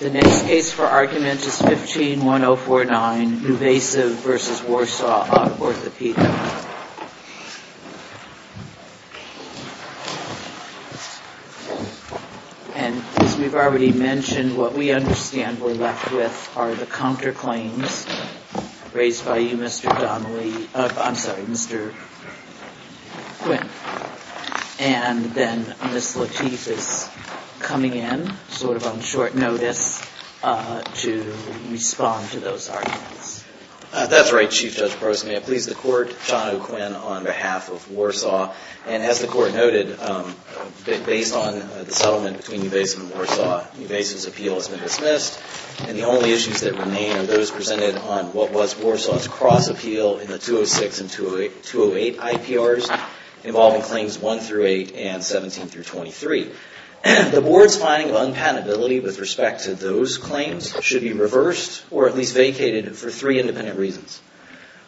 The next case for argument is 15-1049, NuVasive v. Warsaw Orthopedic. And as we've already mentioned, what we understand we're left with are the counterclaims raised by you, Mr. Donnelly, I'm sorry, Mr. Quinn. And then Ms. Lateef is coming in, sort of on short notice, to respond to those arguments. That's right, Chief Judge Prost. May I please the Court, John O. Quinn, on behalf of Warsaw. And as the Court noted, based on the settlement between NuVasive and Warsaw, NuVasive's appeal has been dismissed. And the only issues that remain are those presented on what was Warsaw's cross-appeal in the 206 and 208 IPRs involving claims 1 through 8 and 17 through 23. The Board's finding of unpatentability with respect to those claims should be reversed or at least vacated for three independent reasons.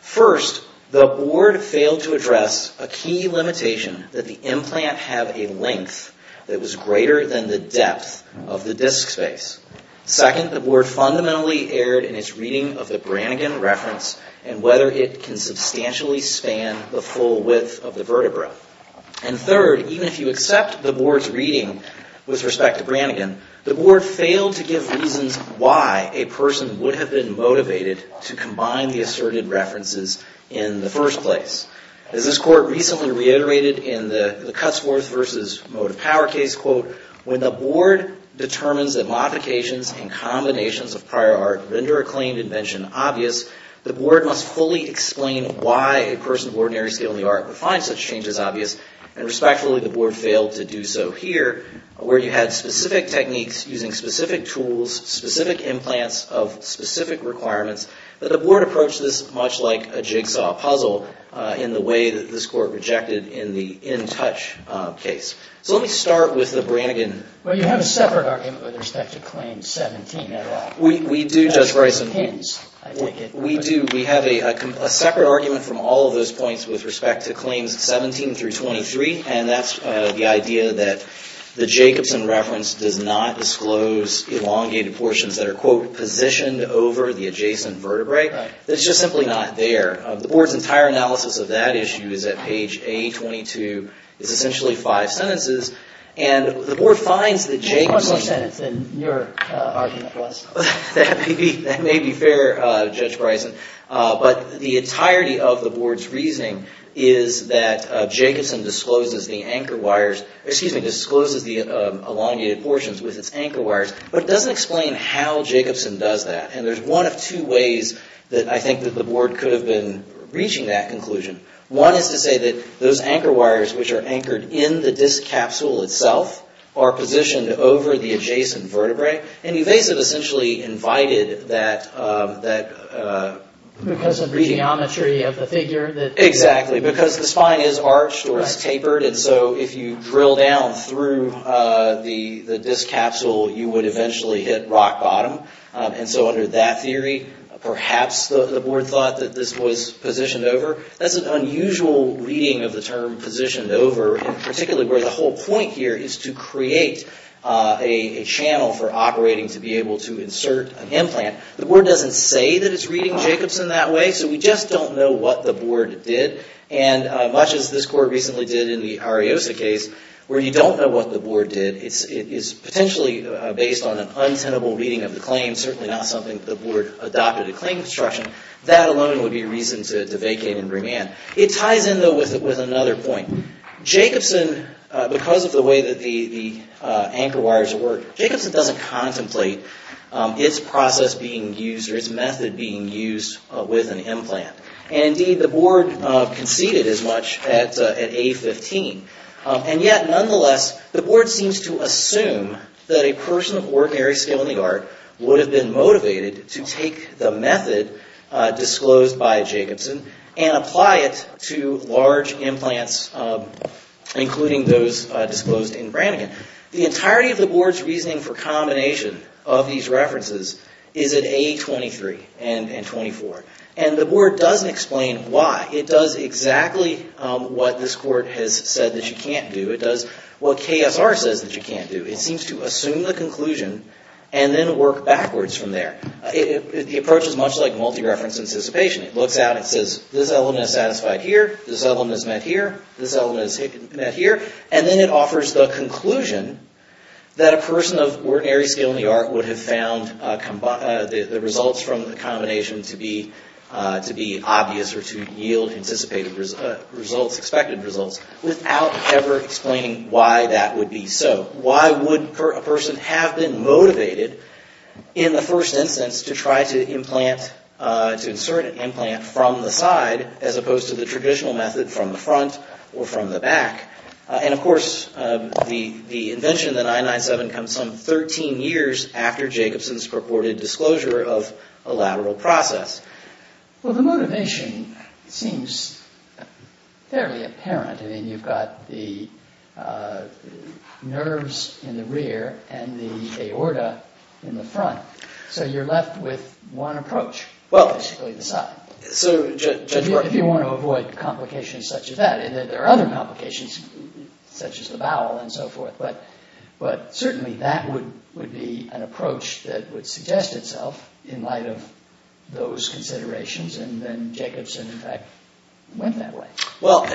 First, the Board failed to address a key limitation that the implant have a length that was greater than the depth of the disc space. Second, the Board fundamentally erred in its reading of the Brannigan reference and whether it can substantially span the full width of the vertebra. And third, even if you accept the Board's reading with respect to Brannigan, the Board failed to give reasons why a person would have been motivated to combine the asserted references in the first place. As this Court recently reiterated in the Cutsworth v. Mode of Power case, quote, when the Board determines that modifications and combinations of prior art render a claimed invention obvious, the Board must fully explain why a person of ordinary skill in the art would find such changes obvious. And respectfully, the Board failed to do so here where you had specific techniques using specific tools, specific implants of specific requirements that the Board approached this much like a jigsaw puzzle in the way that this Court rejected in the In Touch case. So let me start with the Brannigan. Well, you have a separate argument with respect to Claims 17. We do, Judge Bryson. We do. We have a separate argument from all of those points with respect to Claims 17 through 23, and that's the idea that the Jacobson reference does not disclose elongated portions that are, quote, positioned over the adjacent vertebrae. That's just simply not there. The Board's entire analysis of that issue is at page A22. It's essentially five sentences, and the Board finds that Jacobson There's much more sentence than your argument for us. That may be fair, Judge Bryson. But the entirety of the Board's reasoning is that Jacobson discloses the elongated portions with its anchor wires, but it doesn't explain how Jacobson does that. And there's one of two ways that I think that the Board could have been reaching that conclusion. One is to say that those anchor wires, which are anchored in the disc capsule itself, are positioned over the adjacent vertebrae, and you face it essentially invited that Because of the geometry of the figure that Exactly. Because the spine is arched or it's tapered, and so if you drill down through the disc capsule, you would eventually hit rock bottom. And so under that theory, perhaps the Board thought that this was positioned over. That's an unusual reading of the term positioned over, and particularly where the whole point here is to create a channel for operating to be able to insert an implant. The Board doesn't say that it's reading Jacobson that way, so we just don't know what the Board did. And much as this Court recently did in the Ariosa case, where you don't know what the Board did, it is potentially based on an untenable reading of the claim, certainly not something that the Board adopted a claim construction. That alone would be reason to vacate and remand. It ties in, though, with another point. Jacobson, because of the way that the anchor wires work, Jacobson doesn't contemplate its process being used or its method being used with an implant. And indeed, the Board conceded as much at A-15. And yet, nonetheless, the Board seems to assume that a person of ordinary skill in the art would have been motivated to take the method disclosed by Jacobson and apply it to large implants, including those disclosed in Brannigan. The entirety of the Board's reasoning for combination of these references is at A-23 and 24. And the Board doesn't explain why. It does exactly what this Court has said that you can't do. It does what KSR says that you can't do. It seems to assume the conclusion and then work backwards from there. The approach is much like multi-reference anticipation. It looks out and says, this element is satisfied here, this element is met here, this element is met here, and then it offers the conclusion that a person of ordinary skill in the art would have found the results from the combination to be obvious or to yield anticipated results, expected results, without ever explaining why that would be so. Why would a person have been motivated, in the first instance, to try to implant, to insert an implant from the side as opposed to the traditional method from the front or from the back? And, of course, the invention of the 997 comes some 13 years after Jacobson's purported disclosure of a lateral process. Well, the motivation seems fairly apparent. I mean, you've got the nerves in the rear and the aorta in the front. So you're left with one approach, basically the side. So if you want to avoid complications such as that, there are other complications such as the bowel and so forth, but certainly that would be an approach that would suggest itself in light of those considerations and then Jacobson, in fact, went that way. Well,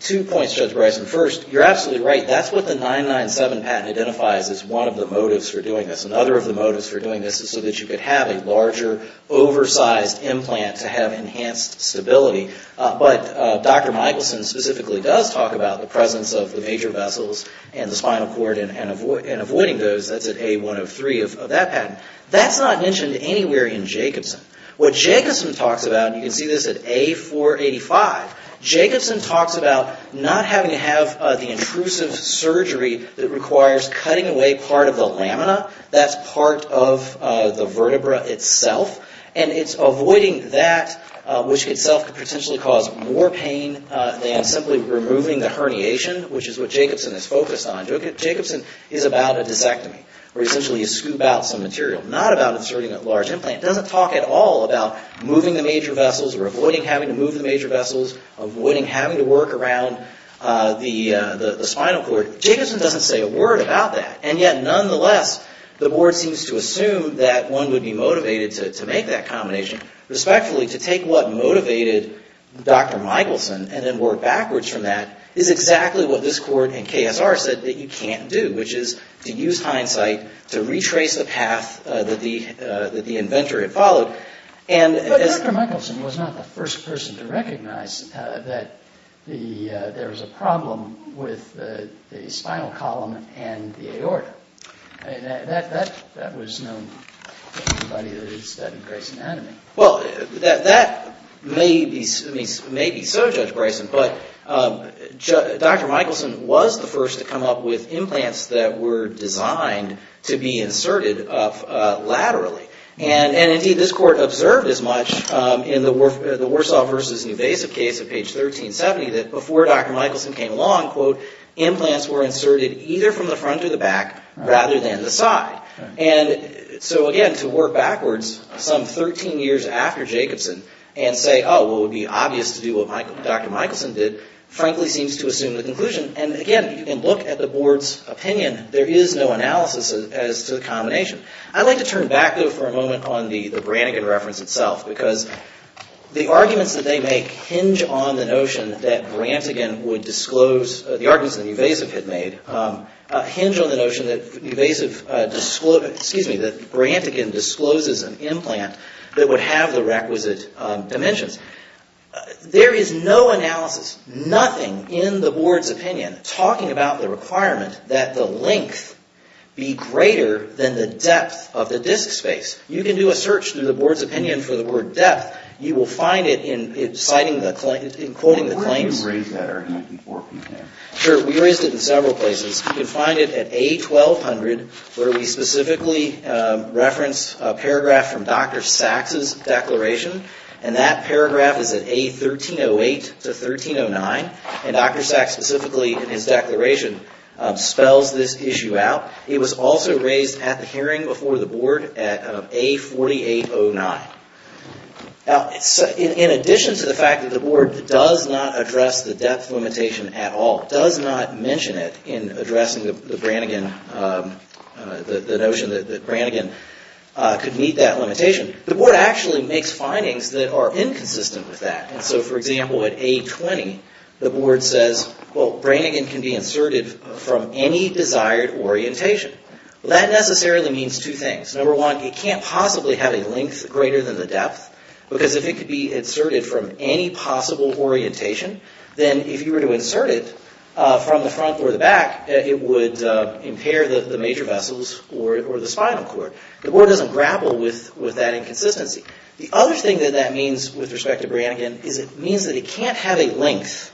two points, Judge Bryson. First, you're absolutely right. That's what the 997 patent identifies as one of the motives for doing this. Another of the motives for doing this is so that you could have a larger, oversized implant to have enhanced stability. But Dr. Michelson specifically does talk about the presence of the major vessels and the spinal cord and avoiding those. That's at A103 of that patent. That's not mentioned anywhere in Jacobson. What Jacobson talks about, and you can see this at A485, Jacobson talks about not having to have the intrusive surgery that requires cutting away part of the lamina, that's part of the vertebra itself, and it's avoiding that which itself could potentially cause more pain than simply removing the herniation, which is what Jacobson is focused on. Jacobson is about a disectomy, where essentially you scoop out some material, not about inserting a large implant. It doesn't talk at all about moving the major vessels or avoiding having to move the major vessels, avoiding having to work around the spinal cord. Jacobson doesn't say a word about that. And yet, nonetheless, the board seems to assume that one would be motivated to make that combination. Respectfully, to take what motivated Dr. Michelson and then work backwards from that is exactly what this court and KSR said that you can't do, which is to use hindsight to retrace the path that the inventor had followed. But Dr. Michelson was not the first person to recognize that there was a problem with the spinal column and the aorta. That was known to everybody that had studied Grayson Anatomy. Well, that may be so, Judge Grayson, but Dr. Michelson was the first to come up with implants that were designed to be inserted laterally. And indeed, this court observed as much in the Warsaw versus Newvasive case of page 1370 that before Dr. Michelson came along, quote, implants were inserted either from the front or the back rather than the side. And so again, to work backwards some 13 years after Jacobson and say, oh, well, it would be obvious to do what Dr. Michelson did, frankly seems to assume the conclusion. And again, you can look at the board's opinion. There is no analysis as to the combination. I'd like to turn back, though, for a moment on the Brantigan reference itself, because the arguments that they make hinge on the notion that Brantigan would disclose, the arguments that Newvasiv had made, hinge on the notion that Newvasiv, excuse me, that Brantigan discloses an implant that would have the requisite dimensions. There is no analysis, nothing in the board's opinion talking about the requirement that the length be greater than the depth of the disk space. You can do a search through the board's opinion for the word depth. You will find it in citing the claim, in quoting the claims. But where do you raise that argument in court from here? Sure, we raised it in several places. You can find it at A1200 where we specifically reference a paragraph from Dr. Sachs' declaration, and that paragraph is at A1308 to 1309, and Dr. Sachs specifically in his declaration spells this issue out. It was also raised at the hearing before the board at A4809. In addition to the fact that the board does not address the depth limitation at all, does not mention it in addressing the Brantigan, the notion that Brantigan could meet that limitation, the board actually makes findings that are inconsistent with that. So for example, at A20, the board says, well, Brantigan can be inserted from any desired orientation. That necessarily means two things. Number one, it can't possibly have a length greater than the depth, because if it could be inserted from any possible orientation, then if you were to insert it from the front or the back, it would impair the major vessels or the spinal cord. The board doesn't grapple with that inconsistency. The other thing that that means with respect to Brantigan is it means that it can't have a length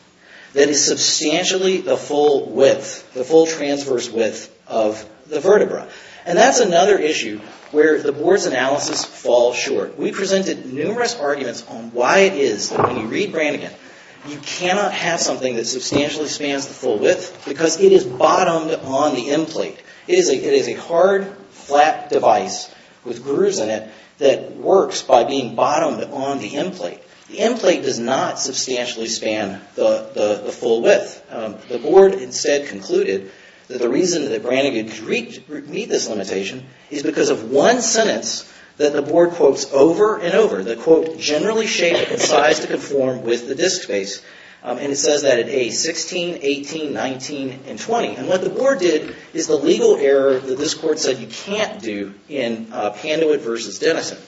that is substantially the full width, the full transverse width of the vertebra. And that's another issue where the board's analysis falls short. We presented numerous arguments on why it is that when you read Brantigan, you cannot have something that substantially spans the full width, because it is bottomed on the end plate. It is a hard flat device with grooves in it that works by being bottomed on the end plate. The end plate does not substantially span the full width. The board instead concluded that the reason that Brantigan could meet this limitation is because of one sentence that the board quotes over and over, the quote, generally shaped and sized to conform with the disc space. And it says that in A16, 18, 19, and 20. And what the board did is the legal error that this court said you can't do in Panduit v. Dennison,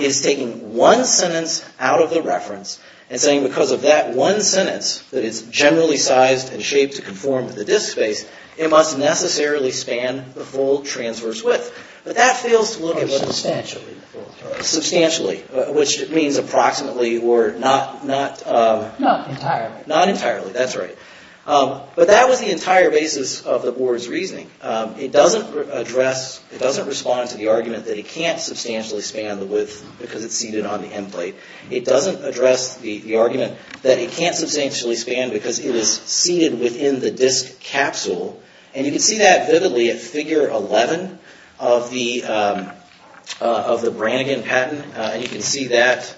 is taking one sentence out of the reference and saying because of that one sentence, that it's generally sized and shaped to conform to the disc space, it must necessarily span the full transverse width. But that fails to look at substantially, which means approximately or not entirely. But that was the entire basis of the board's reasoning. It doesn't address, it doesn't respond to the argument that it can't substantially span the width because it's seated on the end plate. It doesn't address the argument that it can't substantially span because it is seated within the disc capsule. And you can see that vividly at figure 11 of the Brantigan patent. And you can see that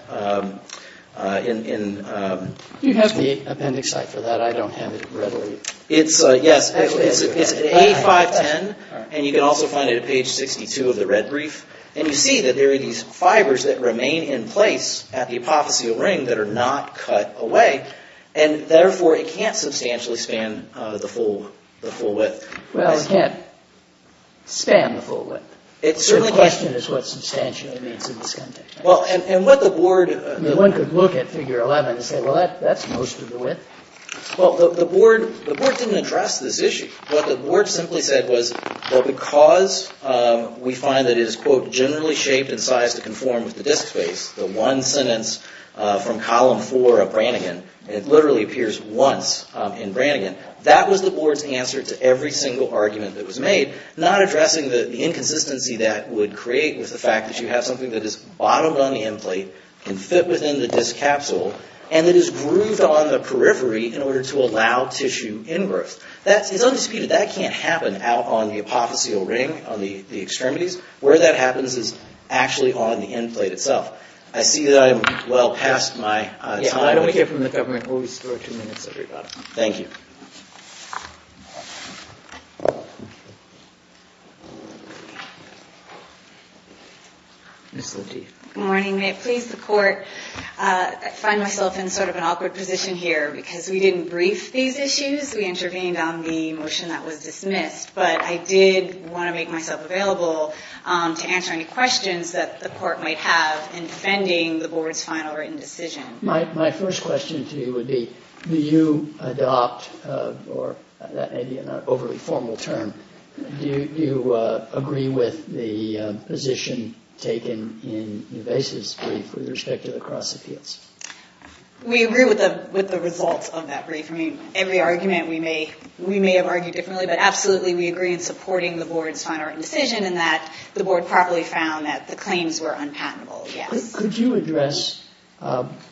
in... You have the appendix site for that. I don't have it readily. It's, yes, it's at A510 and you can also find it at page 62 of the red brief. And you see that there are these fibers that remain in place at the apotheosial ring that are not cut away. And therefore, it can't substantially span the full width. Well, it can't span the full width. It certainly can't. The question is what substantially means in this context. Well, and what the board... I mean, one could look at figure 11 and say, well, that's most of the width. Well, the board didn't address this issue. What the board simply said was, well, because we find that it is, quote, generally shaped and sized to conform with the disc space, the one sentence from column four of Brantigan, and it literally appears once in Brantigan, that was the board's answer to every single argument that was made, not addressing the inconsistency that would create with the fact that you have something that is bottomed on the end plate, can fit within the disc capsule, and it is grooved on the periphery in order to allow tissue ingrowth. It's undisputed, that can't happen out on the apotheosial ring, on the extremities. Where that happens is actually on the end plate itself. I see that I'm well past my time. Yeah, I don't care from the government. We'll restore two minutes of your time. Thank you. Ms. Lateef. Good morning. May it please the court, I find myself in sort of an awkward position here because we didn't brief these issues. I specifically intervened on the motion that was dismissed, but I did want to make myself available to answer any questions that the court might have in defending the board's final written decision. My first question to you would be, do you adopt, or that may be an overly formal term, do you agree with the position taken in Nuves' brief with respect to the cross appeals? We agree with the results of that brief. I mean, every argument we may have argued differently, but absolutely we agree in supporting the board's final written decision in that the board probably found that the claims were unpatentable, yes. Could you address,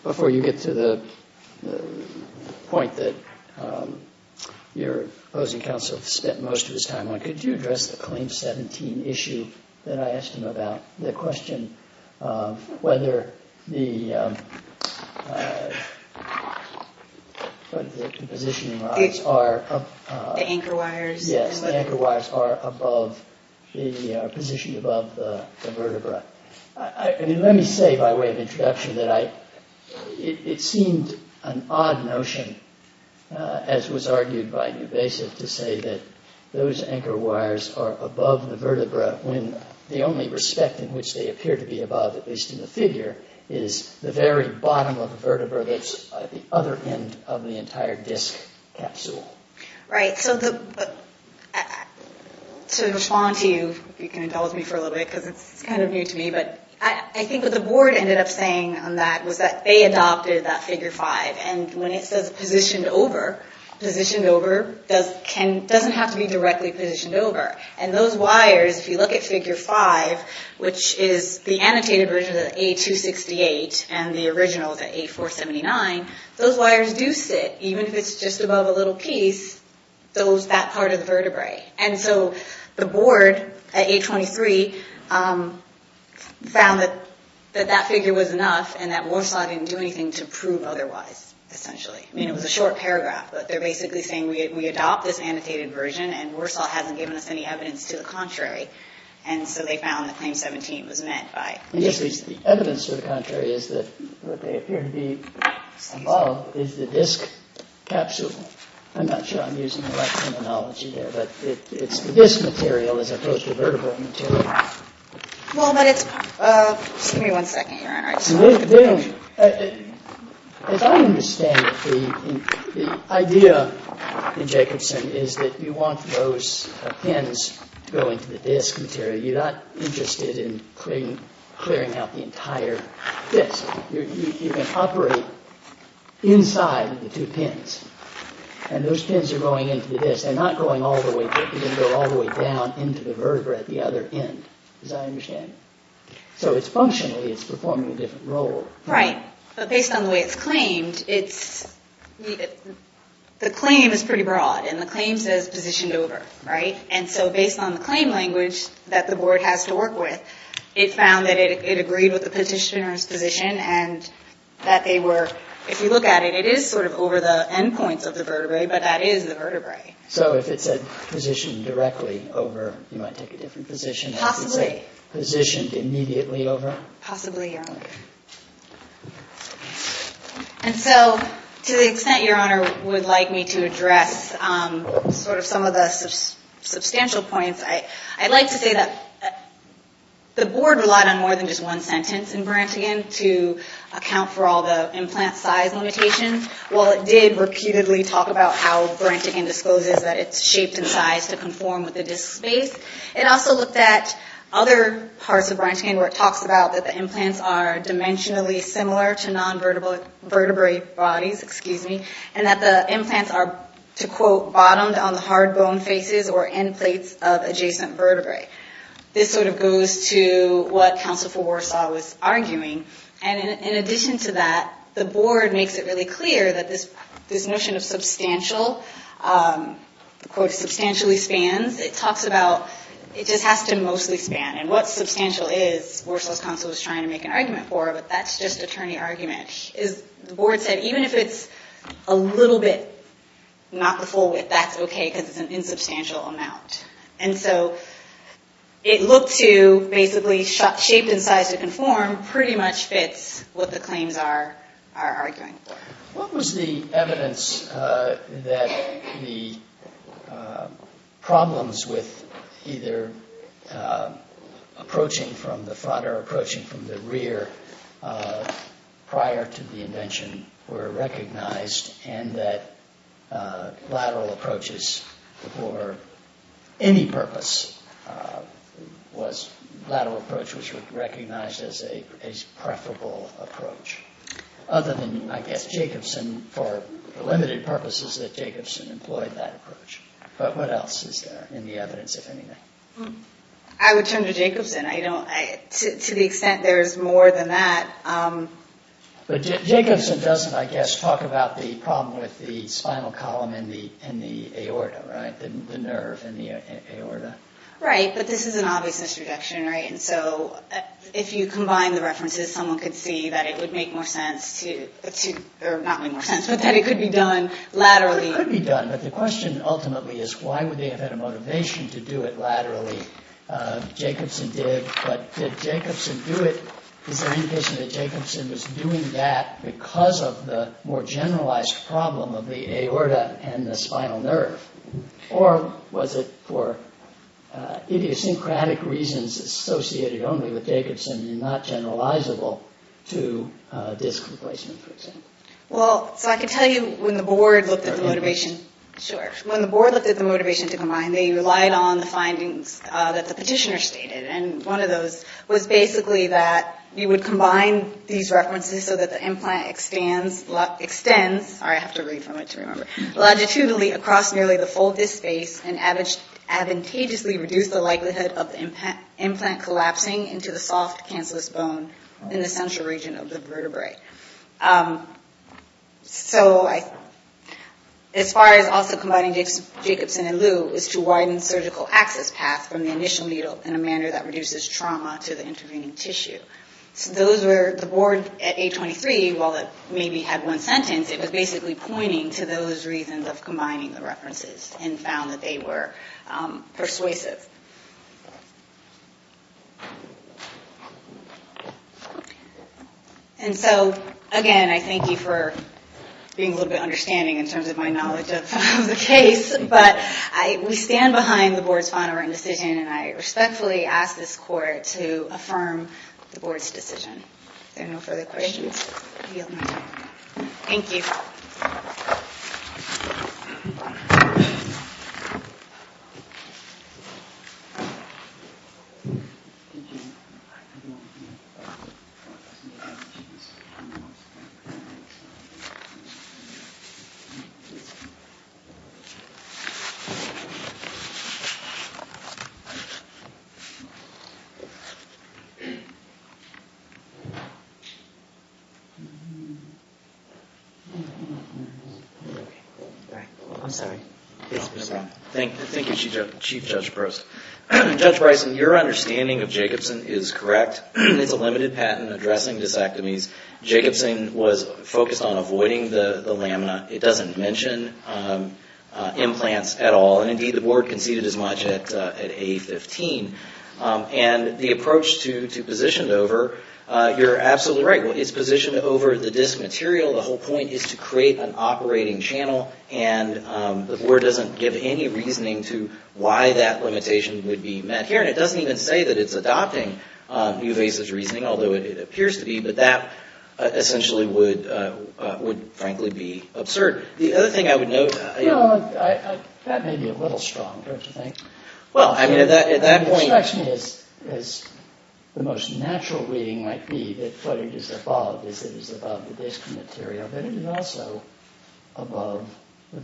before you get to the point that your opposing counsel spent most of his time on, could you address the Claim 17 issue that I asked him about? The question of whether the positioning rods are... The anchor wires. Yes, the anchor wires are above, are positioned above the vertebra. I mean, let me say by way of introduction that it seemed an odd notion, as was argued by Nuves' to say that those anchor wires are above the vertebra when the only respect in which they appear to be above, at least in the figure, is the very bottom of the vertebra that's at the other end of the entire disc capsule. Right, so to respond to you, if you can indulge me for a little bit, because it's kind of new to me, but I think what the board ended up saying on that was that they adopted that doesn't have to be directly positioned over. And those wires, if you look at Figure 5, which is the annotated version of the A268 and the originals at A479, those wires do sit, even if it's just above a little piece, that part of the vertebrae. And so the board at A23 found that that figure was enough and that Morslau didn't do anything to prove otherwise, essentially. I mean, it was a short paragraph, but they're basically saying we adopt this annotated version and Morslau hasn't given us any evidence to the contrary. And so they found that Claim 17 was meant by... Yes, the evidence to the contrary is that what they appear to be above is the disc capsule. I'm not sure I'm using the right terminology there, but it's the disc material as opposed to vertebral material. Well, but it's... Just give me one second, Your Honor. As I understand it, the idea in Jacobson is that you want those pins to go into the disc material. You're not interested in clearing out the entire disc. You can operate inside the two pins. And those pins are going into the disc. They're not going all the way through. They go all the way down into the vertebrae at the other end, as I understand it. So functionally, it's performing a different role. Right. But based on the way it's claimed, the claim is pretty broad. And the claim says positioned over. And so based on the claim language that the board has to work with, it found that it agreed with the petitioner's position and that they were... If you look at it, it is sort of over the endpoints of the vertebrae, but that is the vertebrae. Possibly. And so to the extent, Your Honor, would like me to address sort of some of the substantial points, I'd like to say that the board relied on more than just one sentence in Brantigan to account for all the implant size limitations. While it did repeatedly talk about how Brantigan discloses that it's shaped and sized to conform with the disc space, it also looked at all the other things that were mentioned in other parts of Brantigan where it talks about that the implants are dimensionally similar to non-vertebrae bodies, excuse me, and that the implants are, to quote, bottomed on the hard bone faces or end plates of adjacent vertebrae. This sort of goes to what counsel for Warsaw was arguing. And in addition to that, the board makes it really clear that this notion of substantial, quote, substantially spans, it talks about it just has to mostly span. And what substantial is, Warsaw's counsel was trying to make an argument for, but that's just attorney argument. The board said even if it's a little bit not the full width, that's okay, because it's an insubstantial amount. And so it looked to basically shape and size to conform pretty much fits what the claims are arguing for. What was the evidence that the problems with either approaching from the front or approaching from the rear prior to the invention were recognized and that lateral approaches for any purpose was lateral approach which was recognized as a preferable approach? Other than, I guess, Jacobson for limited purposes that Jacobson employed that approach. But what else is there in the evidence, if anything? I would turn to Jacobson. To the extent there's more than that. But Jacobson doesn't, I guess, talk about the problem with the spinal column in the aorta, right? The nerve in the aorta. Right, but this is an obvious misrejection, right? And so if you combine the references, someone could see that it would make more sense to, or not make more sense, but that it could be done laterally. It could be done, but the question ultimately is why would they have had a motivation to do it laterally? Jacobson did, but did Jacobson do it? Is there any indication that Jacobson was doing that because of the more generalized problem of the aorta and the spinal nerve? Or was it for idiosyncratic reasons associated only with Jacobson and not generalizable to disc replacement, for example? Well, so I can tell you when the board looked at the motivation, sure. When the board looked at the motivation to combine, they relied on the findings that the petitioner stated. And one of those was basically that you would combine these references so that the implant extends, I have to read from it to remember, longitudinally across nearly the full disc space and advantageously reduce the likelihood of the implant collapsing into the soft cancellous bone in the central region of the vertebrae. So as far as also combining Jacobson and Liu is to widen surgical access path from the initial needle in a manner that reduces trauma to the intervening tissue. So those were, the board at 823, while it maybe had one sentence, it was basically pointing to those reasons of combining the references and found that they were persuasive. And so, again, I thank you for being a little bit understanding in terms of my knowledge of the case. But we stand behind the board's final written decision, and I respectfully ask this court to affirm the board's decision. If there are no further questions, I yield my time. Thank you. Thank you, Chief Judge Prost. Judge Bryson, your understanding of Jacobson is correct. It's a limited patent addressing disectomies. Jacobson was focused on avoiding the lamina. It doesn't mention implants at all, and indeed the board conceded as much at A15. And the approach to position over, you're absolutely right. It's positioned over the disk material. The whole point is to create an operating channel, and the board doesn't give any reasoning to why that limitation would be met here. And it doesn't even say that it's adopting new basis reasoning, although it appears to be, but that essentially would frankly be absurd. The other thing I would note... That may be a little strong, don't you think? Well, I mean, at that point... It strikes me as the most natural reading might be that what it is above is it is above the disk material, but it is also above the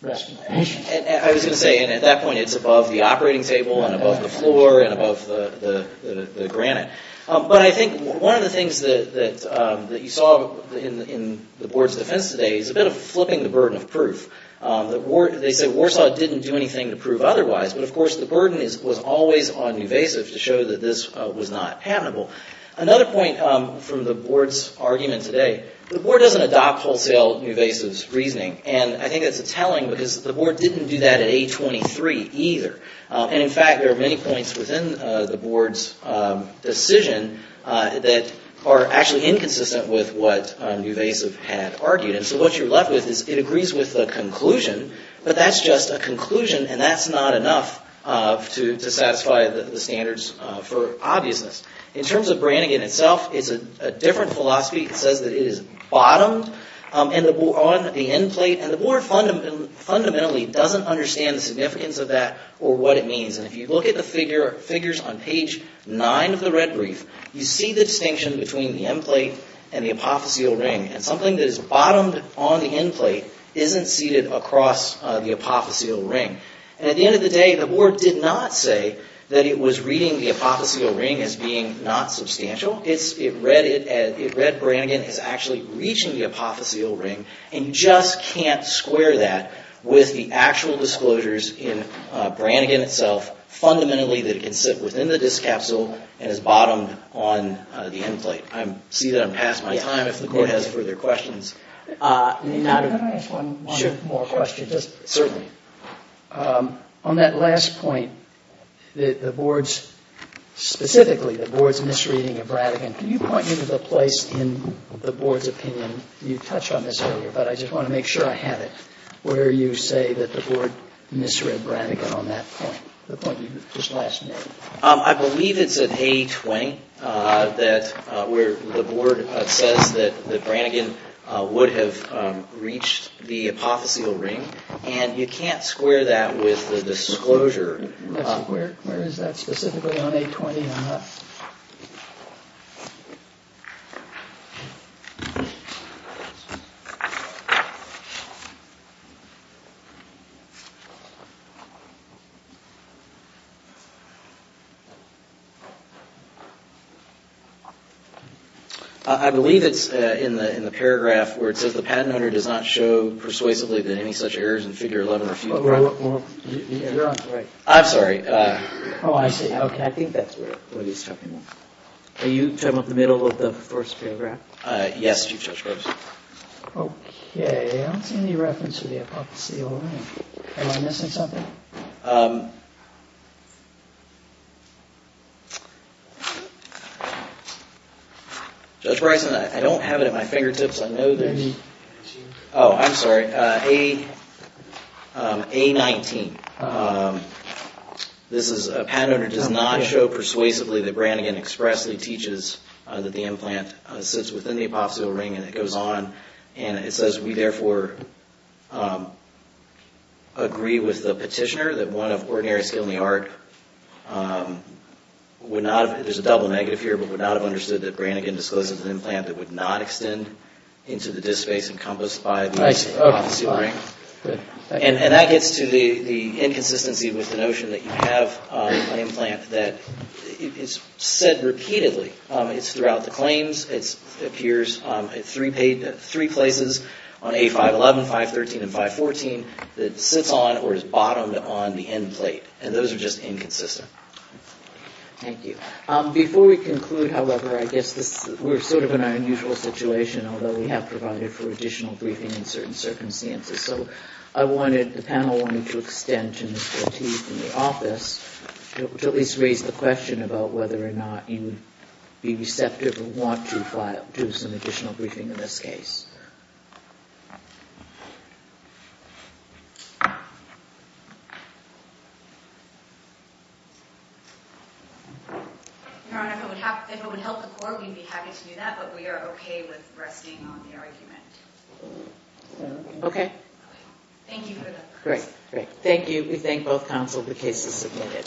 rest of the patient. I was going to say, and at that point it's above the operating table and above the floor and above the granite. But I think one of the things that you saw in the board's defense today is a bit of flipping the burden of proof. They say Warsaw didn't do anything to prove otherwise, but of course the burden was always on Nuvasiv to show that this was not amenable. Another point from the board's argument today, the board doesn't adopt wholesale Nuvasiv's reasoning. And I think that's a telling because the board didn't do that at A23 either. And in fact, there are many points within the board's decision that are actually inconsistent with what Nuvasiv had argued. And so what you're left with is it agrees with the conclusion, but that's just a conclusion and that's not enough to satisfy the standards for obviousness. In terms of Brannigan itself, it's a different philosophy. It says that it is bottomed on the end plate, and the board fundamentally doesn't understand the significance of that or what it means. And if you look at the figures on page 9 of the red brief, you see the distinction between the end plate and the apotheosial ring. And something that is bottomed on the end plate isn't seated across the apotheosial ring. And at the end of the day, the board did not say that it was reading the apotheosial ring as being not substantial. It read Brannigan as actually reaching the apotheosial ring and just can't square that with the actual disclosures in Brannigan itself, fundamentally that it can sit within the disc capsule and is bottomed on the end plate. I see that I'm past my time if the court has further questions. Can I ask one more question? Certainly. On that last point, specifically the board's misreading of Brannigan, can you point me to the place in the board's opinion, you touched on this earlier, but I just want to make sure I have it, where you say that the board misread Brannigan on that point, the point you just last made. I believe it's at A20 where the board says that Brannigan would have reached the apotheosial ring and you can't square that with the disclosure. Where is that specifically on A20? I believe it's in the paragraph where it says the patent owner does not show persuasively that any such errors in figure 11 are futile. You're on the right. I'm sorry. Oh, I see. Okay. I think that's what he's talking about. Are you talking about the middle of the first paragraph? Yes, Chief Justice. Okay. I don't see any reference to the apotheosial ring. Am I missing something? No. Judge Bryson, I don't have it at my fingertips. I know there's... A19. Oh, I'm sorry. A19. This is a patent owner does not show persuasively that Brannigan expressly teaches that the implant sits within the apotheosial ring and it goes on and it says we therefore agree with the petitioner that one of ordinary skill in the art would not have... There's a double negative here, but would not have understood that Brannigan discloses an implant that would not extend into the disk space encompassed by the apotheosial ring. And that gets to the inconsistency with the notion that you have an implant that is said repeatedly. It's throughout the claims. It appears at three places on A511, 513, and 514 that sits on or is bottomed on the end plate. And those are just inconsistent. Thank you. Before we conclude, however, I guess we're sort of in our unusual situation, although we have provided for additional briefing in certain circumstances. So I wanted, the panel wanted to extend to Mr. Lateef in the office to at least raise the question about whether or not you would be receptive or want to do some additional briefing in this case. Your Honor, if it would help the court, we'd be happy to do that, but we are okay with resting on the argument. Okay. Thank you for that. Great, great. Thank you. We thank both counsel. The case is submitted.